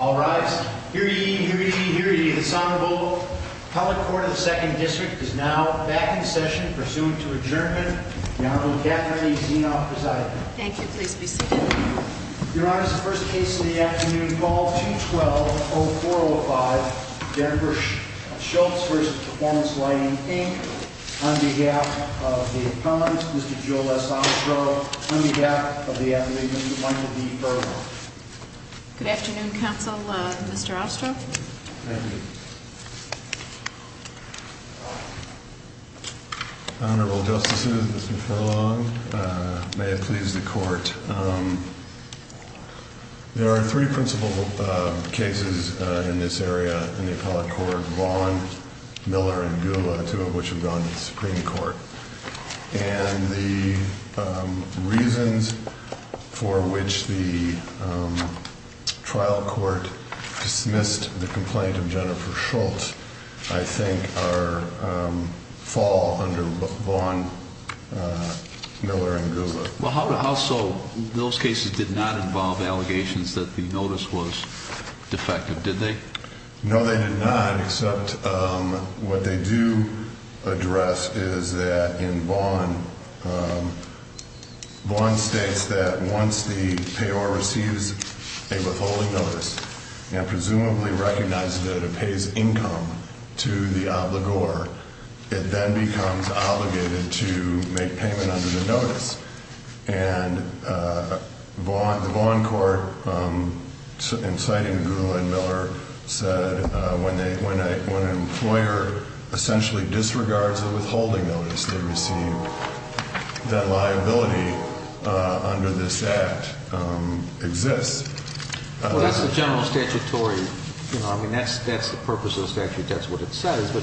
All rise. Hear ye, hear ye, hear ye, this Honorable Public Court of the 2nd District is now back in session pursuant to adjournment. The Honorable Kathleen Zinoff presiding. Thank you. Please be seated. Your Honor, this is the first case of the afternoon, ball 212-0405, Jennifer Shultz v. Performance Lighting, Inc. On behalf of the appellants, Mr. Joel S. Ostrow. On behalf of the defense attorneys, Mr. Joel S. Ostrow. On behalf of the defense attorneys, Mr. Joel S. Ostrow. Good afternoon, Counsel. Mr. Ostrow. Thank you. Honorable Justices, Mr. Furlong, may it please the Court. There are three principal cases in this area in the appellate court, Vaughn, Miller, and Goula. The trial court dismissed the complaint of Jennifer Schultz, I think, fall under Vaughn, Miller, and Goula. Well, how so? Those cases did not involve allegations that the notice was defective, did they? No, they did not, except what they do address is that in Vaughn, Vaughn states that once the payor receives a withholding notice, and presumably recognizes that it pays income to the obligor, it then becomes obligated to make payment under the notice. And the Vaughn court, inciting Goula and Miller, said when an employer essentially disregards the withholding notice, they receive that liability under this Act exists. Well, that's the general statutory, you know, I mean, that's the purpose of the statute. That's what it says. But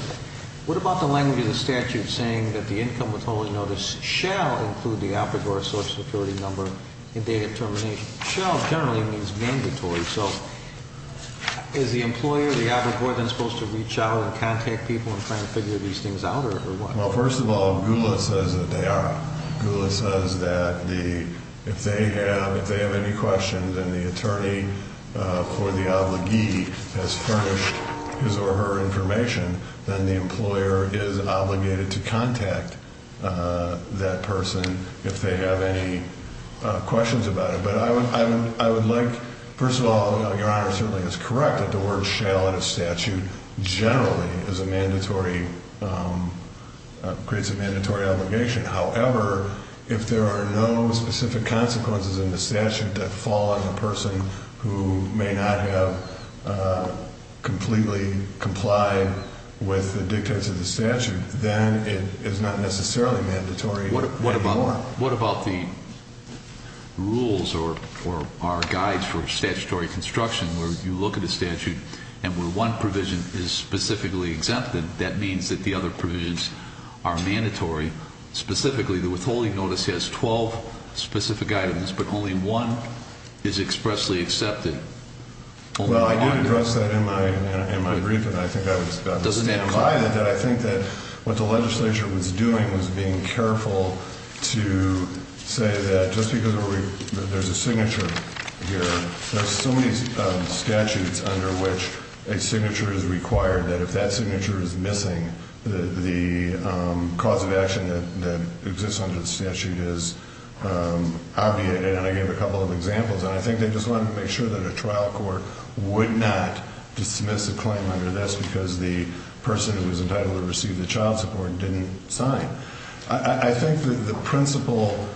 what about the language of the statute saying that the income withholding notice shall include the obligor social security number in date of termination? Shall generally means mandatory. So is the employer, the obligor, then supposed to reach out and contact people and try to figure these things out or what? Well, first of all, Goula says that they are. Goula says that if they have any questions and the attorney for the obligee has furnished his or her information, then the employer is obligated to contact that person if they have any questions about it. But I would like, first of all, Your Honor, certainly is correct that the word shall in the statute generally is a mandatory, creates a mandatory obligation. However, if there are no specific consequences in the statute that fall on the person who may not have completely complied with the dictates of the statute, then it is not necessarily mandatory anymore. What about the rules or our guides for statutory construction where you look at the statute and where one provision is specifically exempted, that means that the other provisions are mandatory. Specifically, the withholding notice has 12 specific items, but only one is expressly accepted. Well, I did address that in my brief, and I think I was about to stand by it, that I think that what the legislature was doing was being careful to say that just because there's a signature here, there's so many statutes under which a signature is required that if that signature is missing, the cause of action that exists under the statute is obviated. And I gave a couple of examples, and I think they just wanted to make sure that a trial court would not dismiss a claim under this because the person who was entitled to receive the child support didn't sign. I think that the principal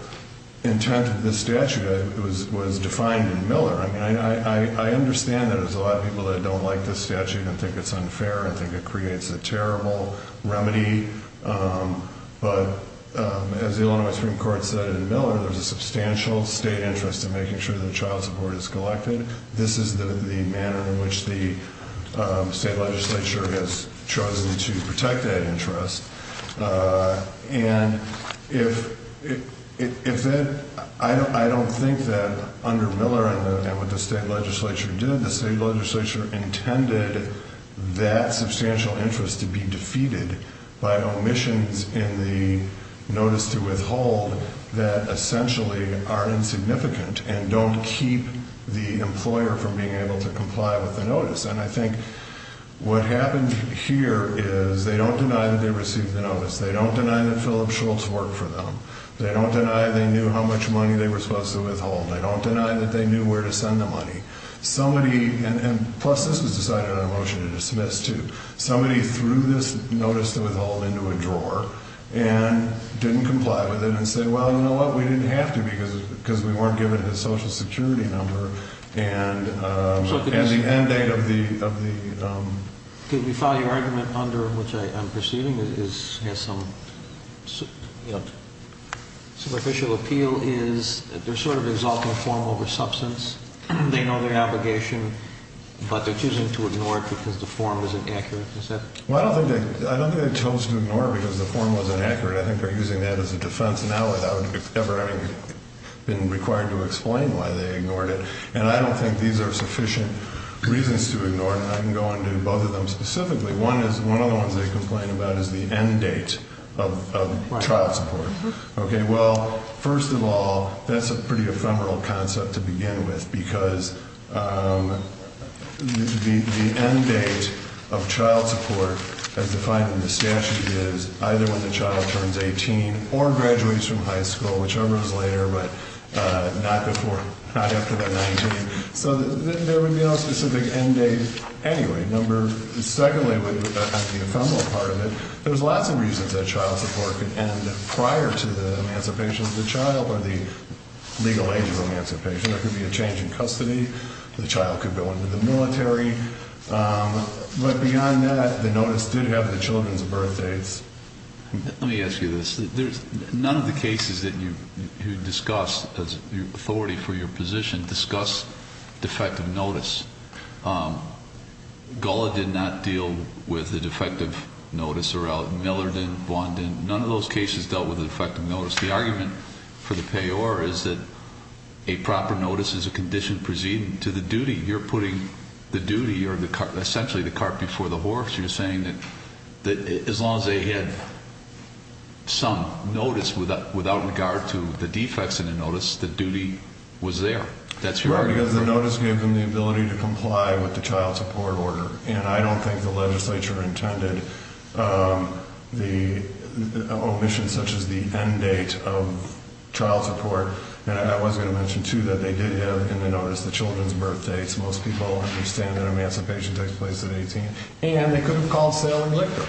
intent of the statute was defined in Miller. I mean, I understand that there's a lot of people that don't like this statute and think it's unfair and think it creates a terrible remedy, but as the Illinois Supreme Court said in Miller, there's a substantial state interest in making sure that the child support is collected. This is the manner in which the state legislature has chosen to protect that interest. And if that, I don't think that under Miller and what the state legislature did, the state legislature intended that substantial interest to be defeated by omissions in the notice to withhold that essentially are insignificant and don't keep the employer from being able to comply with the notice. And I think what happened here is they don't deny that they received the notice. They don't deny that Philip Schultz worked for them. They don't deny they knew how much money they were supposed to withhold. They don't deny that they knew where to send the money. Somebody, and plus this was decided on a motion to dismiss too, somebody threw this notice to withhold into a drawer and didn't comply with it and said, well, you know what? We didn't have to because we weren't given his social security number. And at the end date of the... Could we follow your argument under which I'm perceiving is has some superficial appeal is they're sort of exalting form over substance. They know their obligation, but they're choosing to ignore it because the form is inaccurate. Is that... Well, I don't think they chose to ignore it because the form was inaccurate. I think they're using that as a defense now without ever having been required to explain why they ignored it. And I don't think these are sufficient reasons to ignore it. I can go into both of them specifically. One is, one of the ones they complain about is the end date of child support. Okay. Well, first of all, that's a pretty ephemeral concept to begin with because the end date of child support as defined in the statute is either when the child turns 18 or graduates from high school, whichever is later, but not before, not after they're 19. So there would be no specific end date anyway. Number... Secondly, on the ephemeral part of it, there's lots of reasons that child support could end prior to the emancipation of the child or the legal age of emancipation. There could be a change in custody. The child could go into the military. But beyond that, the notice did have the children's birth dates. Let me ask you this. None of the cases that you discussed as authority for your position discussed defective notice. Gullah did not deal with the defective notice. Millard didn't. Vaughn didn't. None of those cases dealt with the defective notice. The argument for the payor is that a proper notice is a condition preceding to the duty. You're putting the duty or essentially the cart before the horse. You're saying that as long as they had some notice without regard to the defects in the notice, the duty was there. That's your argument? Right, because the notice gave them the ability to comply with the child support order. And I don't think the legislature intended the omission such as the end date of child support. And I was going to mention, too, that they did have in the notice the children's birth dates. Most people understand that emancipation takes place at 18. And they could have called Salem Liquor,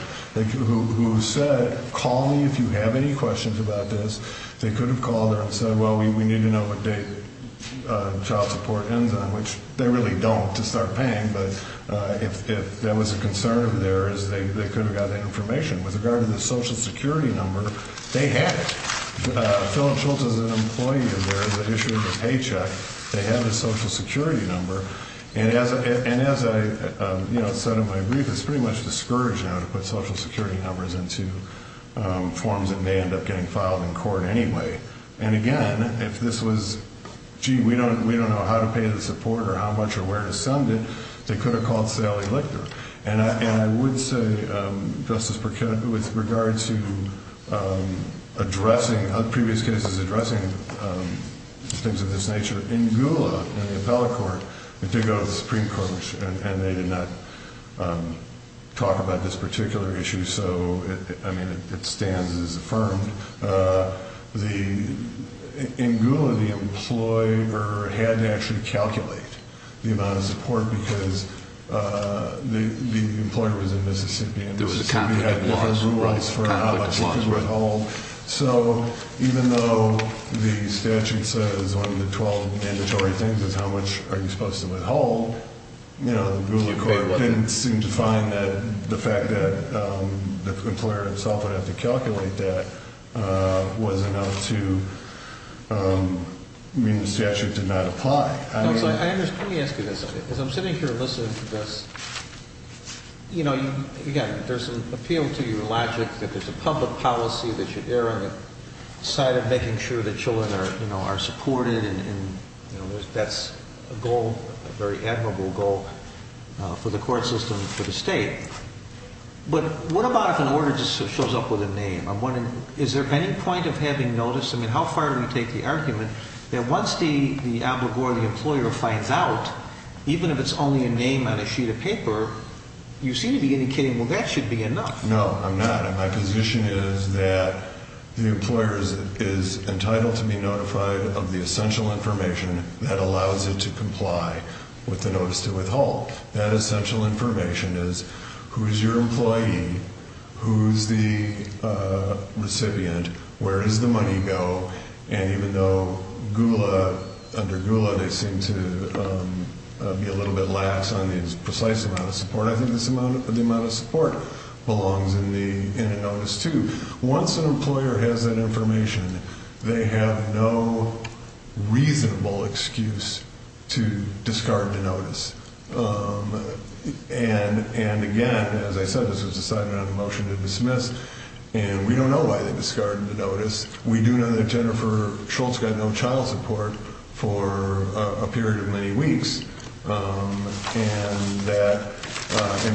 who said, call me if you have any questions about this. They could have called there and said, well, we need to know what date child support ends on, which they really don't to start paying. But if there was a concern there is they could have gotten that information. With regard to the Social Security number, they had it. Philip Schultz is an employee in there that issued the paycheck. They had the Social Security number. And as I said in my brief, it's pretty much discouraged now to put Social Security numbers into forms that may end up getting filed in court anyway. And, again, if this was, gee, we don't know how to pay the support or how much or where to send it, they could have called Salem Liquor. And I would say, Justice Burkett, with regard to previous cases addressing things of this nature, in Gula, in the appellate court, they did go to the Supreme Court, and they did not talk about this particular issue. So, I mean, it stands as affirmed. In Gula, the employer had to actually calculate the amount of support because the employer was in Mississippi, and Mississippi had different rules for how much it could withhold. So even though the statute says one of the 12 mandatory things is how much are you supposed to withhold, the Gula court didn't seem to find that the fact that the employer himself would have to calculate that was enough to mean the statute did not apply. So let me ask you this. As I'm sitting here listening to this, you know, again, there's an appeal to your logic that there's a public policy that should err on the side of making sure that children are supported, and that's a goal, a very admirable goal for the court system, for the state. But what about if an order just shows up with a name? Is there any point of having notice? I mean, how far do we take the argument that once the obligor, the employer, finds out, even if it's only a name on a sheet of paper, you seem to be indicating, well, that should be enough. No, I'm not, and my position is that the employer is entitled to be notified of the essential information that allows it to comply with the notice to withhold. That essential information is who is your employee, who is the recipient, where does the money go, and even though Gula, under Gula, they seem to be a little bit lax on the precise amount of support, I think the amount of support belongs in the notice too. Once an employer has that information, they have no reasonable excuse to discard the notice. And, again, as I said, this was decided on a motion to dismiss, and we don't know why they discarded the notice. We do know that Jennifer Schultz got no child support for a period of many weeks, and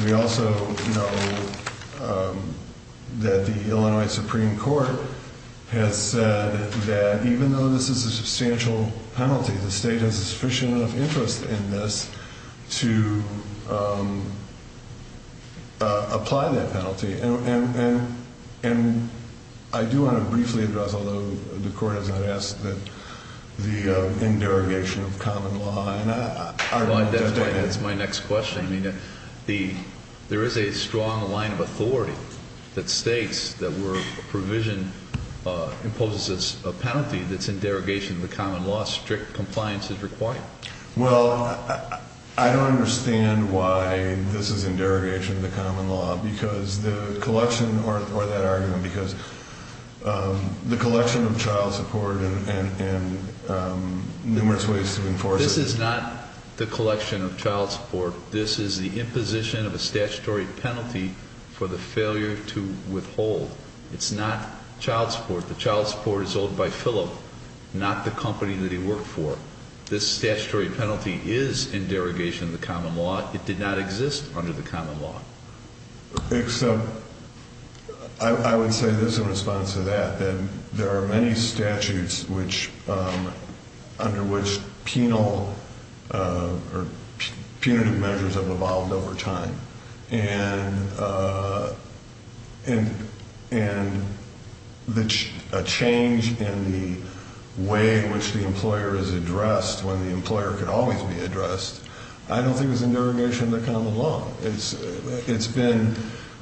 we also know that the Illinois Supreme Court has said that even though this is a substantial penalty, the state has a sufficient amount of interest in this to apply that penalty. And I do want to briefly address, although the court has not asked, the derogation of common law. That's my next question. I mean, there is a strong line of authority that states that where a provision imposes a penalty, that's in derogation of the common law. Strict compliance is required. Well, I don't understand why this is in derogation of the common law because the collection, or that argument, because the collection of child support and numerous ways to enforce it. This is not the collection of child support. This is the imposition of a statutory penalty for the failure to withhold. It's not child support. The child support is owed by Philip, not the company that he worked for. This statutory penalty is in derogation of the common law. It did not exist under the common law. Except I would say this in response to that, that there are many statutes under which penal or punitive measures have evolved over time. And a change in the way in which the employer is addressed, when the employer can always be addressed, I don't think is in derogation of the common law. It's been,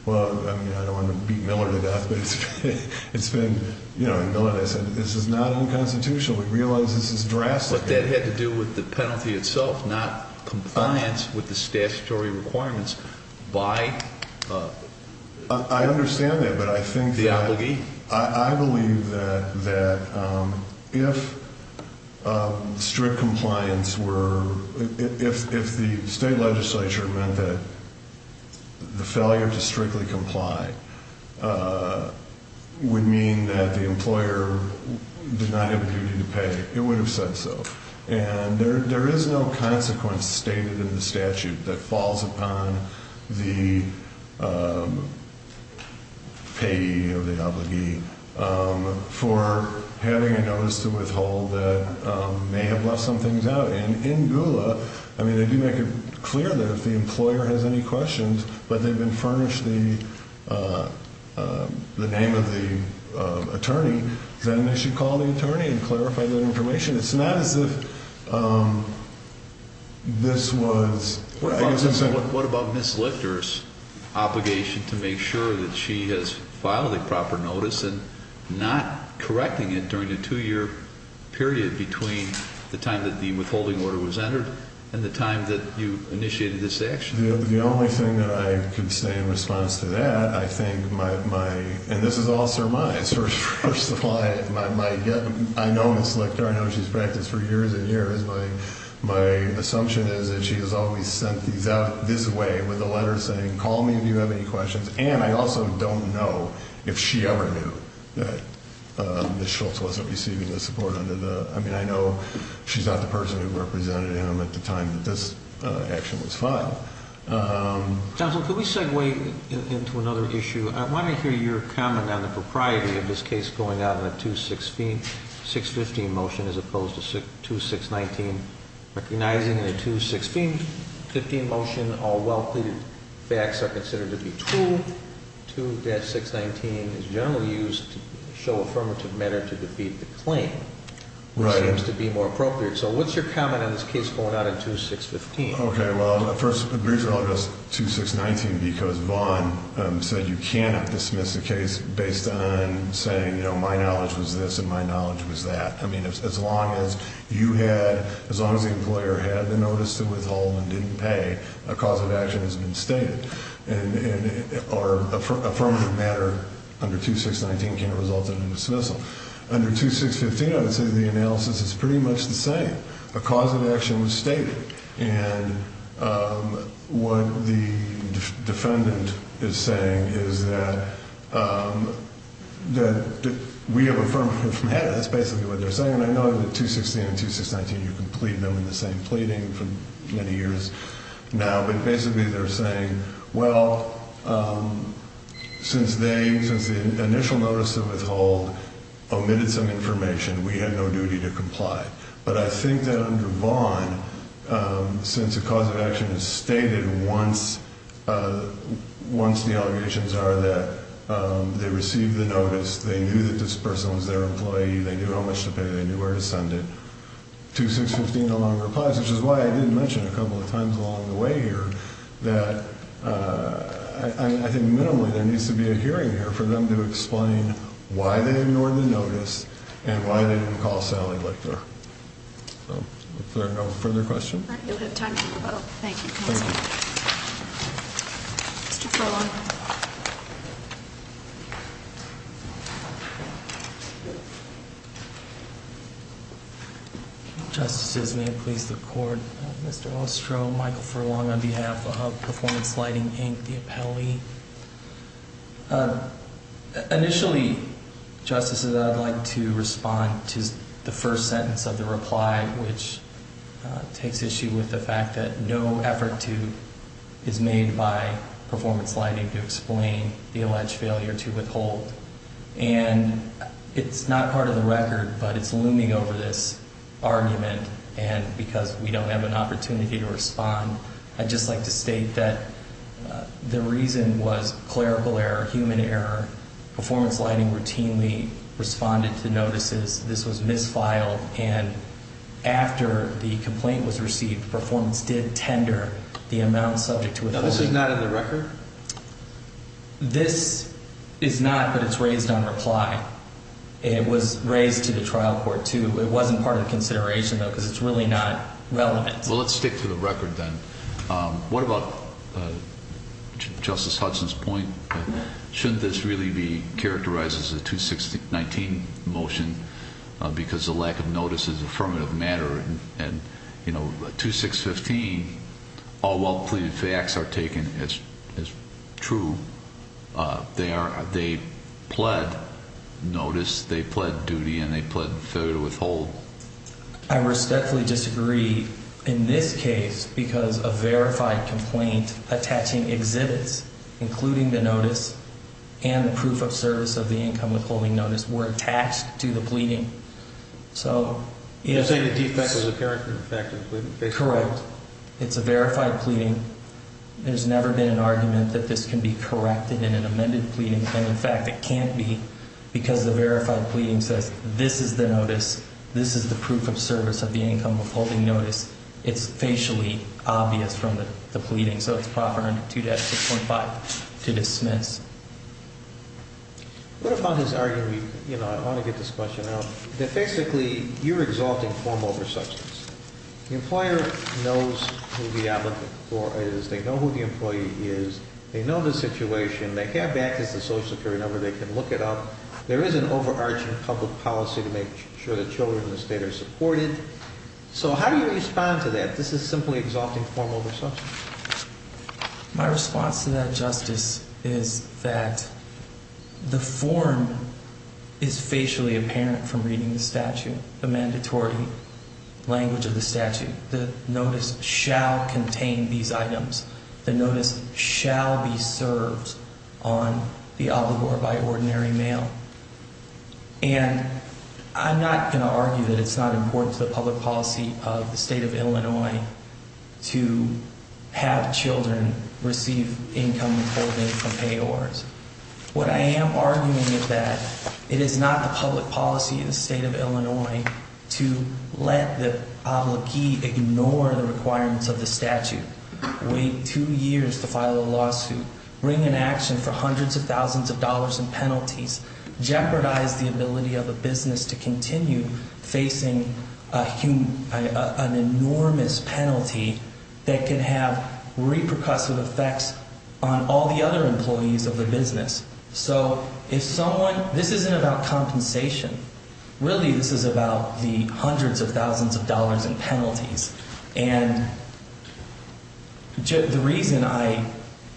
well, I don't want to beat Miller to death, but it's been, you know, and Miller and I said this is not unconstitutional. We realize this is drastic. But that had to do with the penalty itself, not compliance with the statutory requirements by... I understand that, but I think that... The obligee. I believe that if strict compliance were... If the state legislature meant that the failure to strictly comply would mean that the employer did not have a duty to pay, it would have said so. And there is no consequence stated in the statute that falls upon the payee or the obligee for having a notice to withhold that may have left some things out. And in GULA, I mean, they do make it clear that if the employer has any questions, but they've been furnished the name of the attorney, then they should call the attorney and clarify that information. It's not as if this was... What about Ms. Lichter's obligation to make sure that she has filed a proper notice and not correcting it during a two-year period between the time that the withholding order was entered and the time that you initiated this action? The only thing that I can say in response to that, I think my... And this is all Sir Maya's. First of all, I know Ms. Lichter. I know she's practiced for years and years. But my assumption is that she has always sent these out this way with a letter saying, call me if you have any questions. And I also don't know if she ever knew that Ms. Schultz wasn't receiving the support under the... I mean, I know she's not the person who represented him at the time that this action was filed. Counsel, could we segue into another issue? I want to hear your comment on the propriety of this case going out on a 2-615 motion as opposed to 2-619. Recognizing the 2-615 motion, all well pleaded facts are considered to be true, 2-619 is generally used to show affirmative manner to defeat the claim. Right. Which seems to be more appropriate. So what's your comment on this case going out on 2-615? Okay, well, first, I'll address 2-619 because Vaughn said you cannot dismiss a case based on saying, you know, my knowledge was this and my knowledge was that. I mean, as long as you had, as long as the employer had the notice to withhold and didn't pay, a cause of action has been stated. Or affirmative manner under 2-619 can't result in a dismissal. Under 2-615, I would say the analysis is pretty much the same. A cause of action was stated. And what the defendant is saying is that we have affirmative manner. That's basically what they're saying. And I know that 2-616 and 2-619, you can plead them in the same pleading for many years now. But basically they're saying, well, since they, since the initial notice of withhold omitted some information, we had no duty to comply. But I think that under Vaughn, since a cause of action is stated once the allegations are that they received the notice, they knew that this person was their employee, they knew how much to pay, they knew where to send it. 2-615 no longer applies, which is why I didn't mention a couple of times along the way here that I think minimally there needs to be a hearing here for them to explain why they ignored the notice and why they didn't call Sally Lichter. So, if there are no further questions. Thank you. Mr. Furlong. Justices, may it please the court. Mr. Ostro, Michael Furlong on behalf of Performance Lighting Inc., the appellee. Initially, Justices, I'd like to respond to the first sentence of the reply, which takes issue with the fact that no effort is made by Performance Lighting to explain the alleged failure to withhold. And it's not part of the record, but it's looming over this argument, and because we don't have an opportunity to respond, I'd just like to state that the reason was clerical error, human error. Performance Lighting routinely responded to notices. This was misfiled, and after the complaint was received, Performance did tender the amount subject to withholding. Now, this is not in the record? This is not, but it's raised on reply. It was raised to the trial court, too. It wasn't part of the consideration, though, because it's really not relevant. Well, let's stick to the record, then. What about Justice Hudson's point? Shouldn't this really be characterized as a 2-6-19 motion because the lack of notice is an affirmative matter? And, you know, 2-6-15, all well-pleaded facts are taken as true. They pled notice, they pled duty, and they pled failure to withhold. I respectfully disagree in this case because a verified complaint attaching exhibits, including the notice, and the proof of service of the income withholding notice were attached to the pleading. So, yes. You're saying the defect was a character defect? Correct. It's a verified pleading. There's never been an argument that this can be corrected in an amended pleading, and, in fact, it can't be because the verified pleading says this is the notice, this is the proof of service of the income withholding notice. It's facially obvious from the pleading, so it's proper under 2-6.5 to dismiss. What about his argument, you know, I want to get this question out, that basically you're exalting form over substance. The employer knows who the applicant for is. They know who the employee is. They know the situation. They have access to Social Security number. They can look it up. There is an overarching public policy to make sure the children in the state are supported. So how do you respond to that? This is simply exalting form over substance. My response to that, Justice, is that the form is facially apparent from reading the statute, the mandatory language of the statute. The notice shall contain these items. The notice shall be served on the obligor by ordinary mail. And I'm not going to argue that it's not important to the public policy of the state of Illinois to have children receive income withholding from payors. What I am arguing is that it is not the public policy of the state of Illinois to let the obligee ignore the requirements of the statute. Wait two years to file a lawsuit. Bring an action for hundreds of thousands of dollars in penalties. Jeopardize the ability of a business to continue facing an enormous penalty that can have repercussive effects on all the other employees of the business. So if someone, this isn't about compensation. Really, this is about the hundreds of thousands of dollars in penalties. And the reason I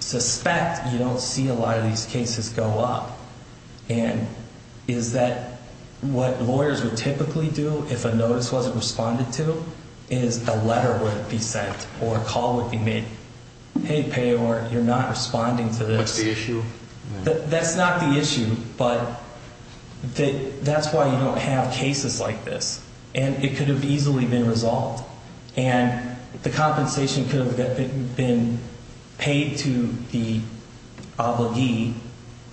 suspect you don't see a lot of these cases go up is that what lawyers would typically do if a notice wasn't responded to is a letter would be sent or a call would be made. Hey, payor, you're not responding to this. What's the issue? That's not the issue. But that's why you don't have cases like this. And it could have easily been resolved. And the compensation could have been paid to the obligee.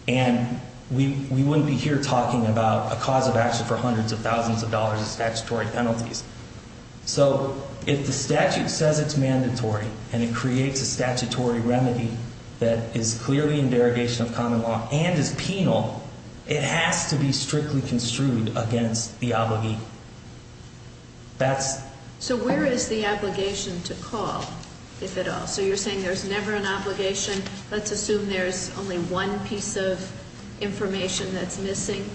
And we wouldn't be here talking about a cause of action for hundreds of thousands of dollars in statutory penalties. So if the statute says it's mandatory and it creates a statutory remedy that is clearly in derogation of common law and is penal, it has to be strictly construed against the obligee. So where is the obligation to call, if at all? So you're saying there's never an obligation. Let's assume there's only one piece of information that's missing.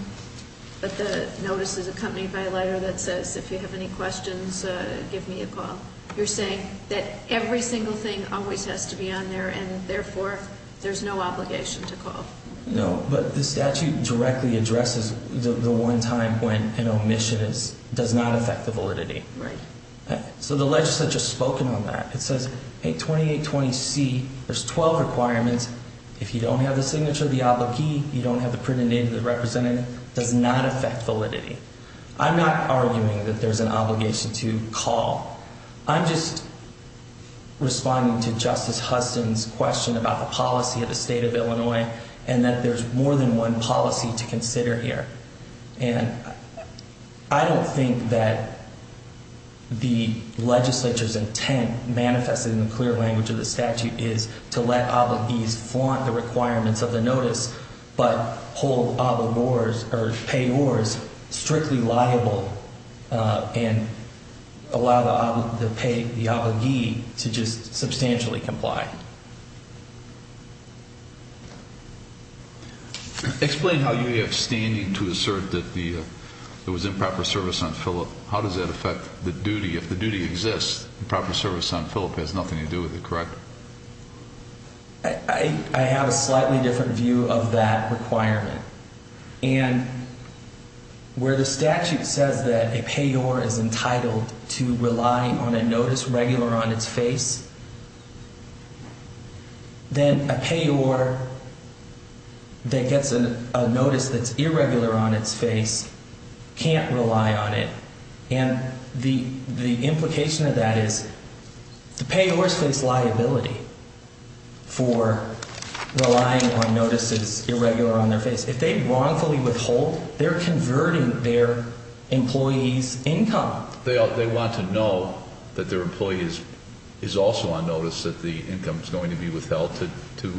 But the notice is accompanied by a letter that says, if you have any questions, give me a call. You're saying that every single thing always has to be on there and, therefore, there's no obligation to call. No, but the statute directly addresses the one time when an omission does not affect the validity. Right. So the legislature has spoken on that. It says in 2820C, there's 12 requirements. If you don't have the signature of the obligee, you don't have the printed name of the representative, it does not affect validity. I'm not arguing that there's an obligation to call. I'm just responding to Justice Huston's question about the policy of the state of Illinois and that there's more than one policy to consider here. And I don't think that the legislature's intent, manifested in the clear language of the statute, is to let obligees flaunt the requirements of the notice but hold payors strictly liable and allow the obligee to just substantially comply. Explain how you have standing to assert that there was improper service on Phillip. How does that affect the duty? If the duty exists, improper service on Phillip has nothing to do with it, correct? I have a slightly different view of that requirement. And where the statute says that a payor is entitled to rely on a notice regular on its face, then a payor that gets a notice that's irregular on its face can't rely on it. And the implication of that is the payors face liability for relying on notices irregular on their face. If they wrongfully withhold, they're converting their employee's income. They want to know that their employee is also on notice that the income is going to be withheld to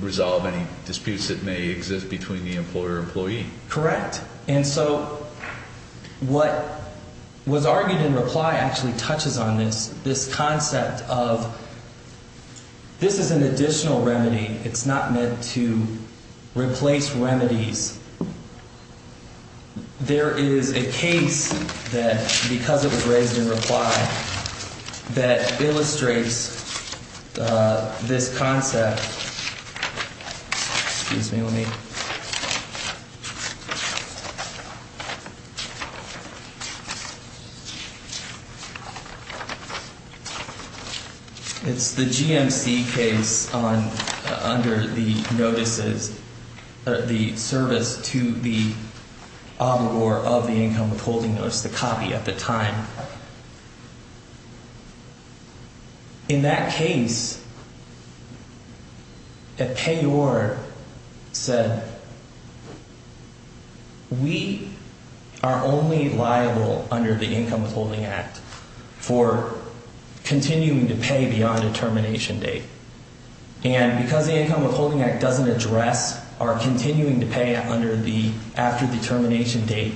resolve any disputes that may exist between the employer and employee. Correct? And so what was argued in reply actually touches on this, this concept of this is an additional remedy. It's not meant to replace remedies. There is a case that because it was raised in reply that illustrates this concept. Excuse me, let me. It's the GMC case under the notices, the service to the obligor of the income withholding notice, the copy at the time. In that case, a payor said, we are only liable under the Income Withholding Act for continuing to pay beyond a termination date. And because the Income Withholding Act doesn't address our continuing to pay under the after the termination date,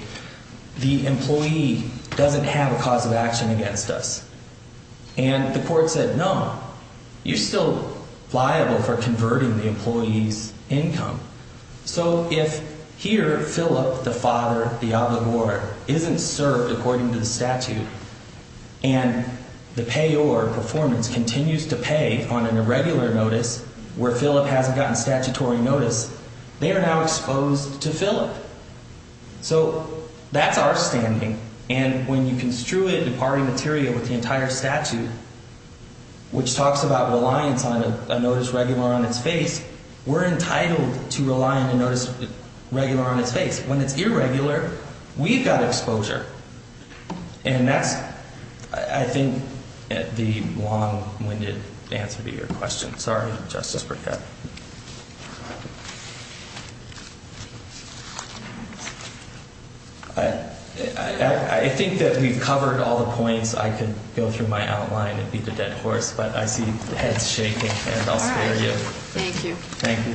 the employee doesn't have a cause of action against us. And the court said, no, you're still liable for converting the employee's income. So if here, Philip, the father, the obligor, isn't served according to the statute and the payor performance continues to pay on an irregular notice where Philip hasn't gotten statutory notice, they are now exposed to Philip. So that's our standing. And when you construe it in party material with the entire statute, which talks about reliance on a notice regular on its face, we're entitled to rely on a notice regular on its face. When it's irregular, we've got exposure. And that's, I think, the long-winded answer to your question. Sorry, Justice Burkett. I think that we've covered all the points. I could go through my outline and beat a dead horse, but I see heads shaking, and I'll spare you. All right. Thank you. Thank you.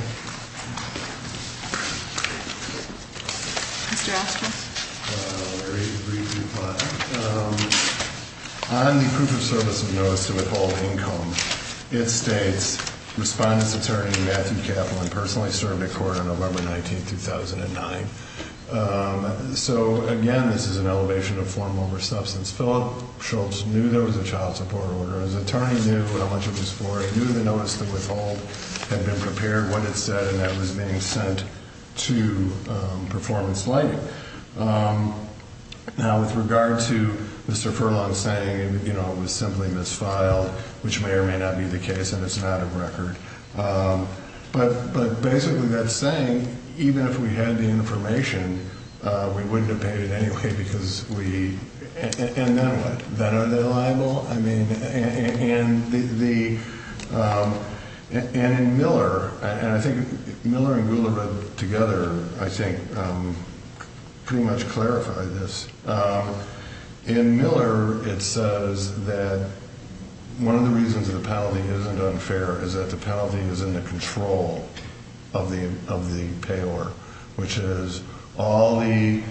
Mr. Askew. Very briefly, but on the proof of service of notice to withhold income, it states, Respondent's attorney, Matthew Kaplan, personally served a court on November 19, 2009. So, again, this is an elevation of formal or substance. Philip Schultz knew there was a child support order. His attorney knew how much it was for. He knew the notice to withhold had been prepared, what it said, and that it was being sent to performance lighting. Now, with regard to Mr. Furlong saying, you know, it was simply misfiled, which may or may not be the case, and it's not a record. But basically that saying, even if we had the information, we wouldn't have paid it anyway because we – and then what? Then are they liable? I mean, and the – and in Miller, and I think Miller and Gulerud together, I think, pretty much clarified this. In Miller, it says that one of the reasons the penalty isn't unfair is that the penalty is in the control of the payor, which is all the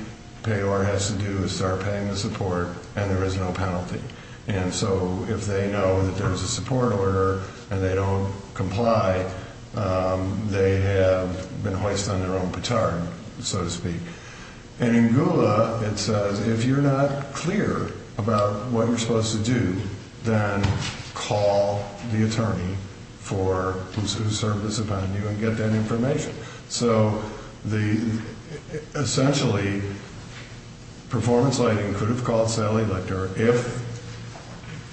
payor has to do is start paying the support and there is no penalty. And so if they know that there is a support order and they don't comply, they have been hoist on their own petard, so to speak. And in Gula, it says if you're not clear about what you're supposed to do, then call the attorney for – who served as a venue and get that information. So the – essentially, performance lighting could have called Sally Lichter if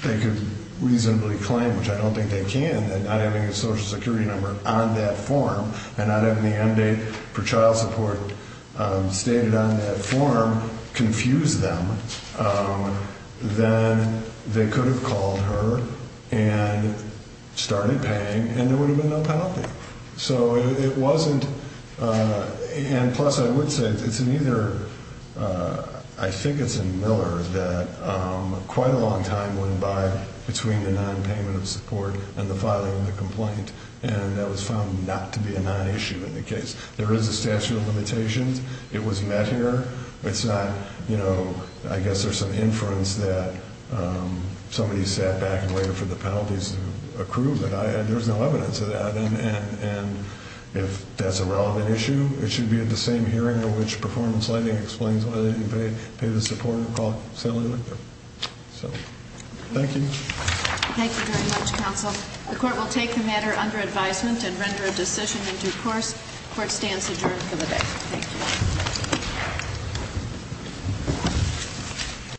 they could reasonably claim, which I don't think they can, that not having a Social Security number on that form and not having the end date for child support stated on that form confused them. Then they could have called her and started paying and there would have been no penalty. So it wasn't – and plus, I would say, it's neither – I think it's in Miller that quite a long time went by between the nonpayment of support and the filing of the complaint, and that was found not to be a nonissue in the case. There is a statute of limitations. It was met here. It's not – I guess there's some inference that somebody sat back and waited for the penalties to accrue, but there's no evidence of that. And if that's a relevant issue, it should be at the same hearing in which performance lighting explains why they didn't pay the support and call Sally Lichter. So, thank you. Thank you very much, counsel. The court will take the matter under advisement and render a decision in due course. Court stands adjourned for the day. Thank you. Thank you.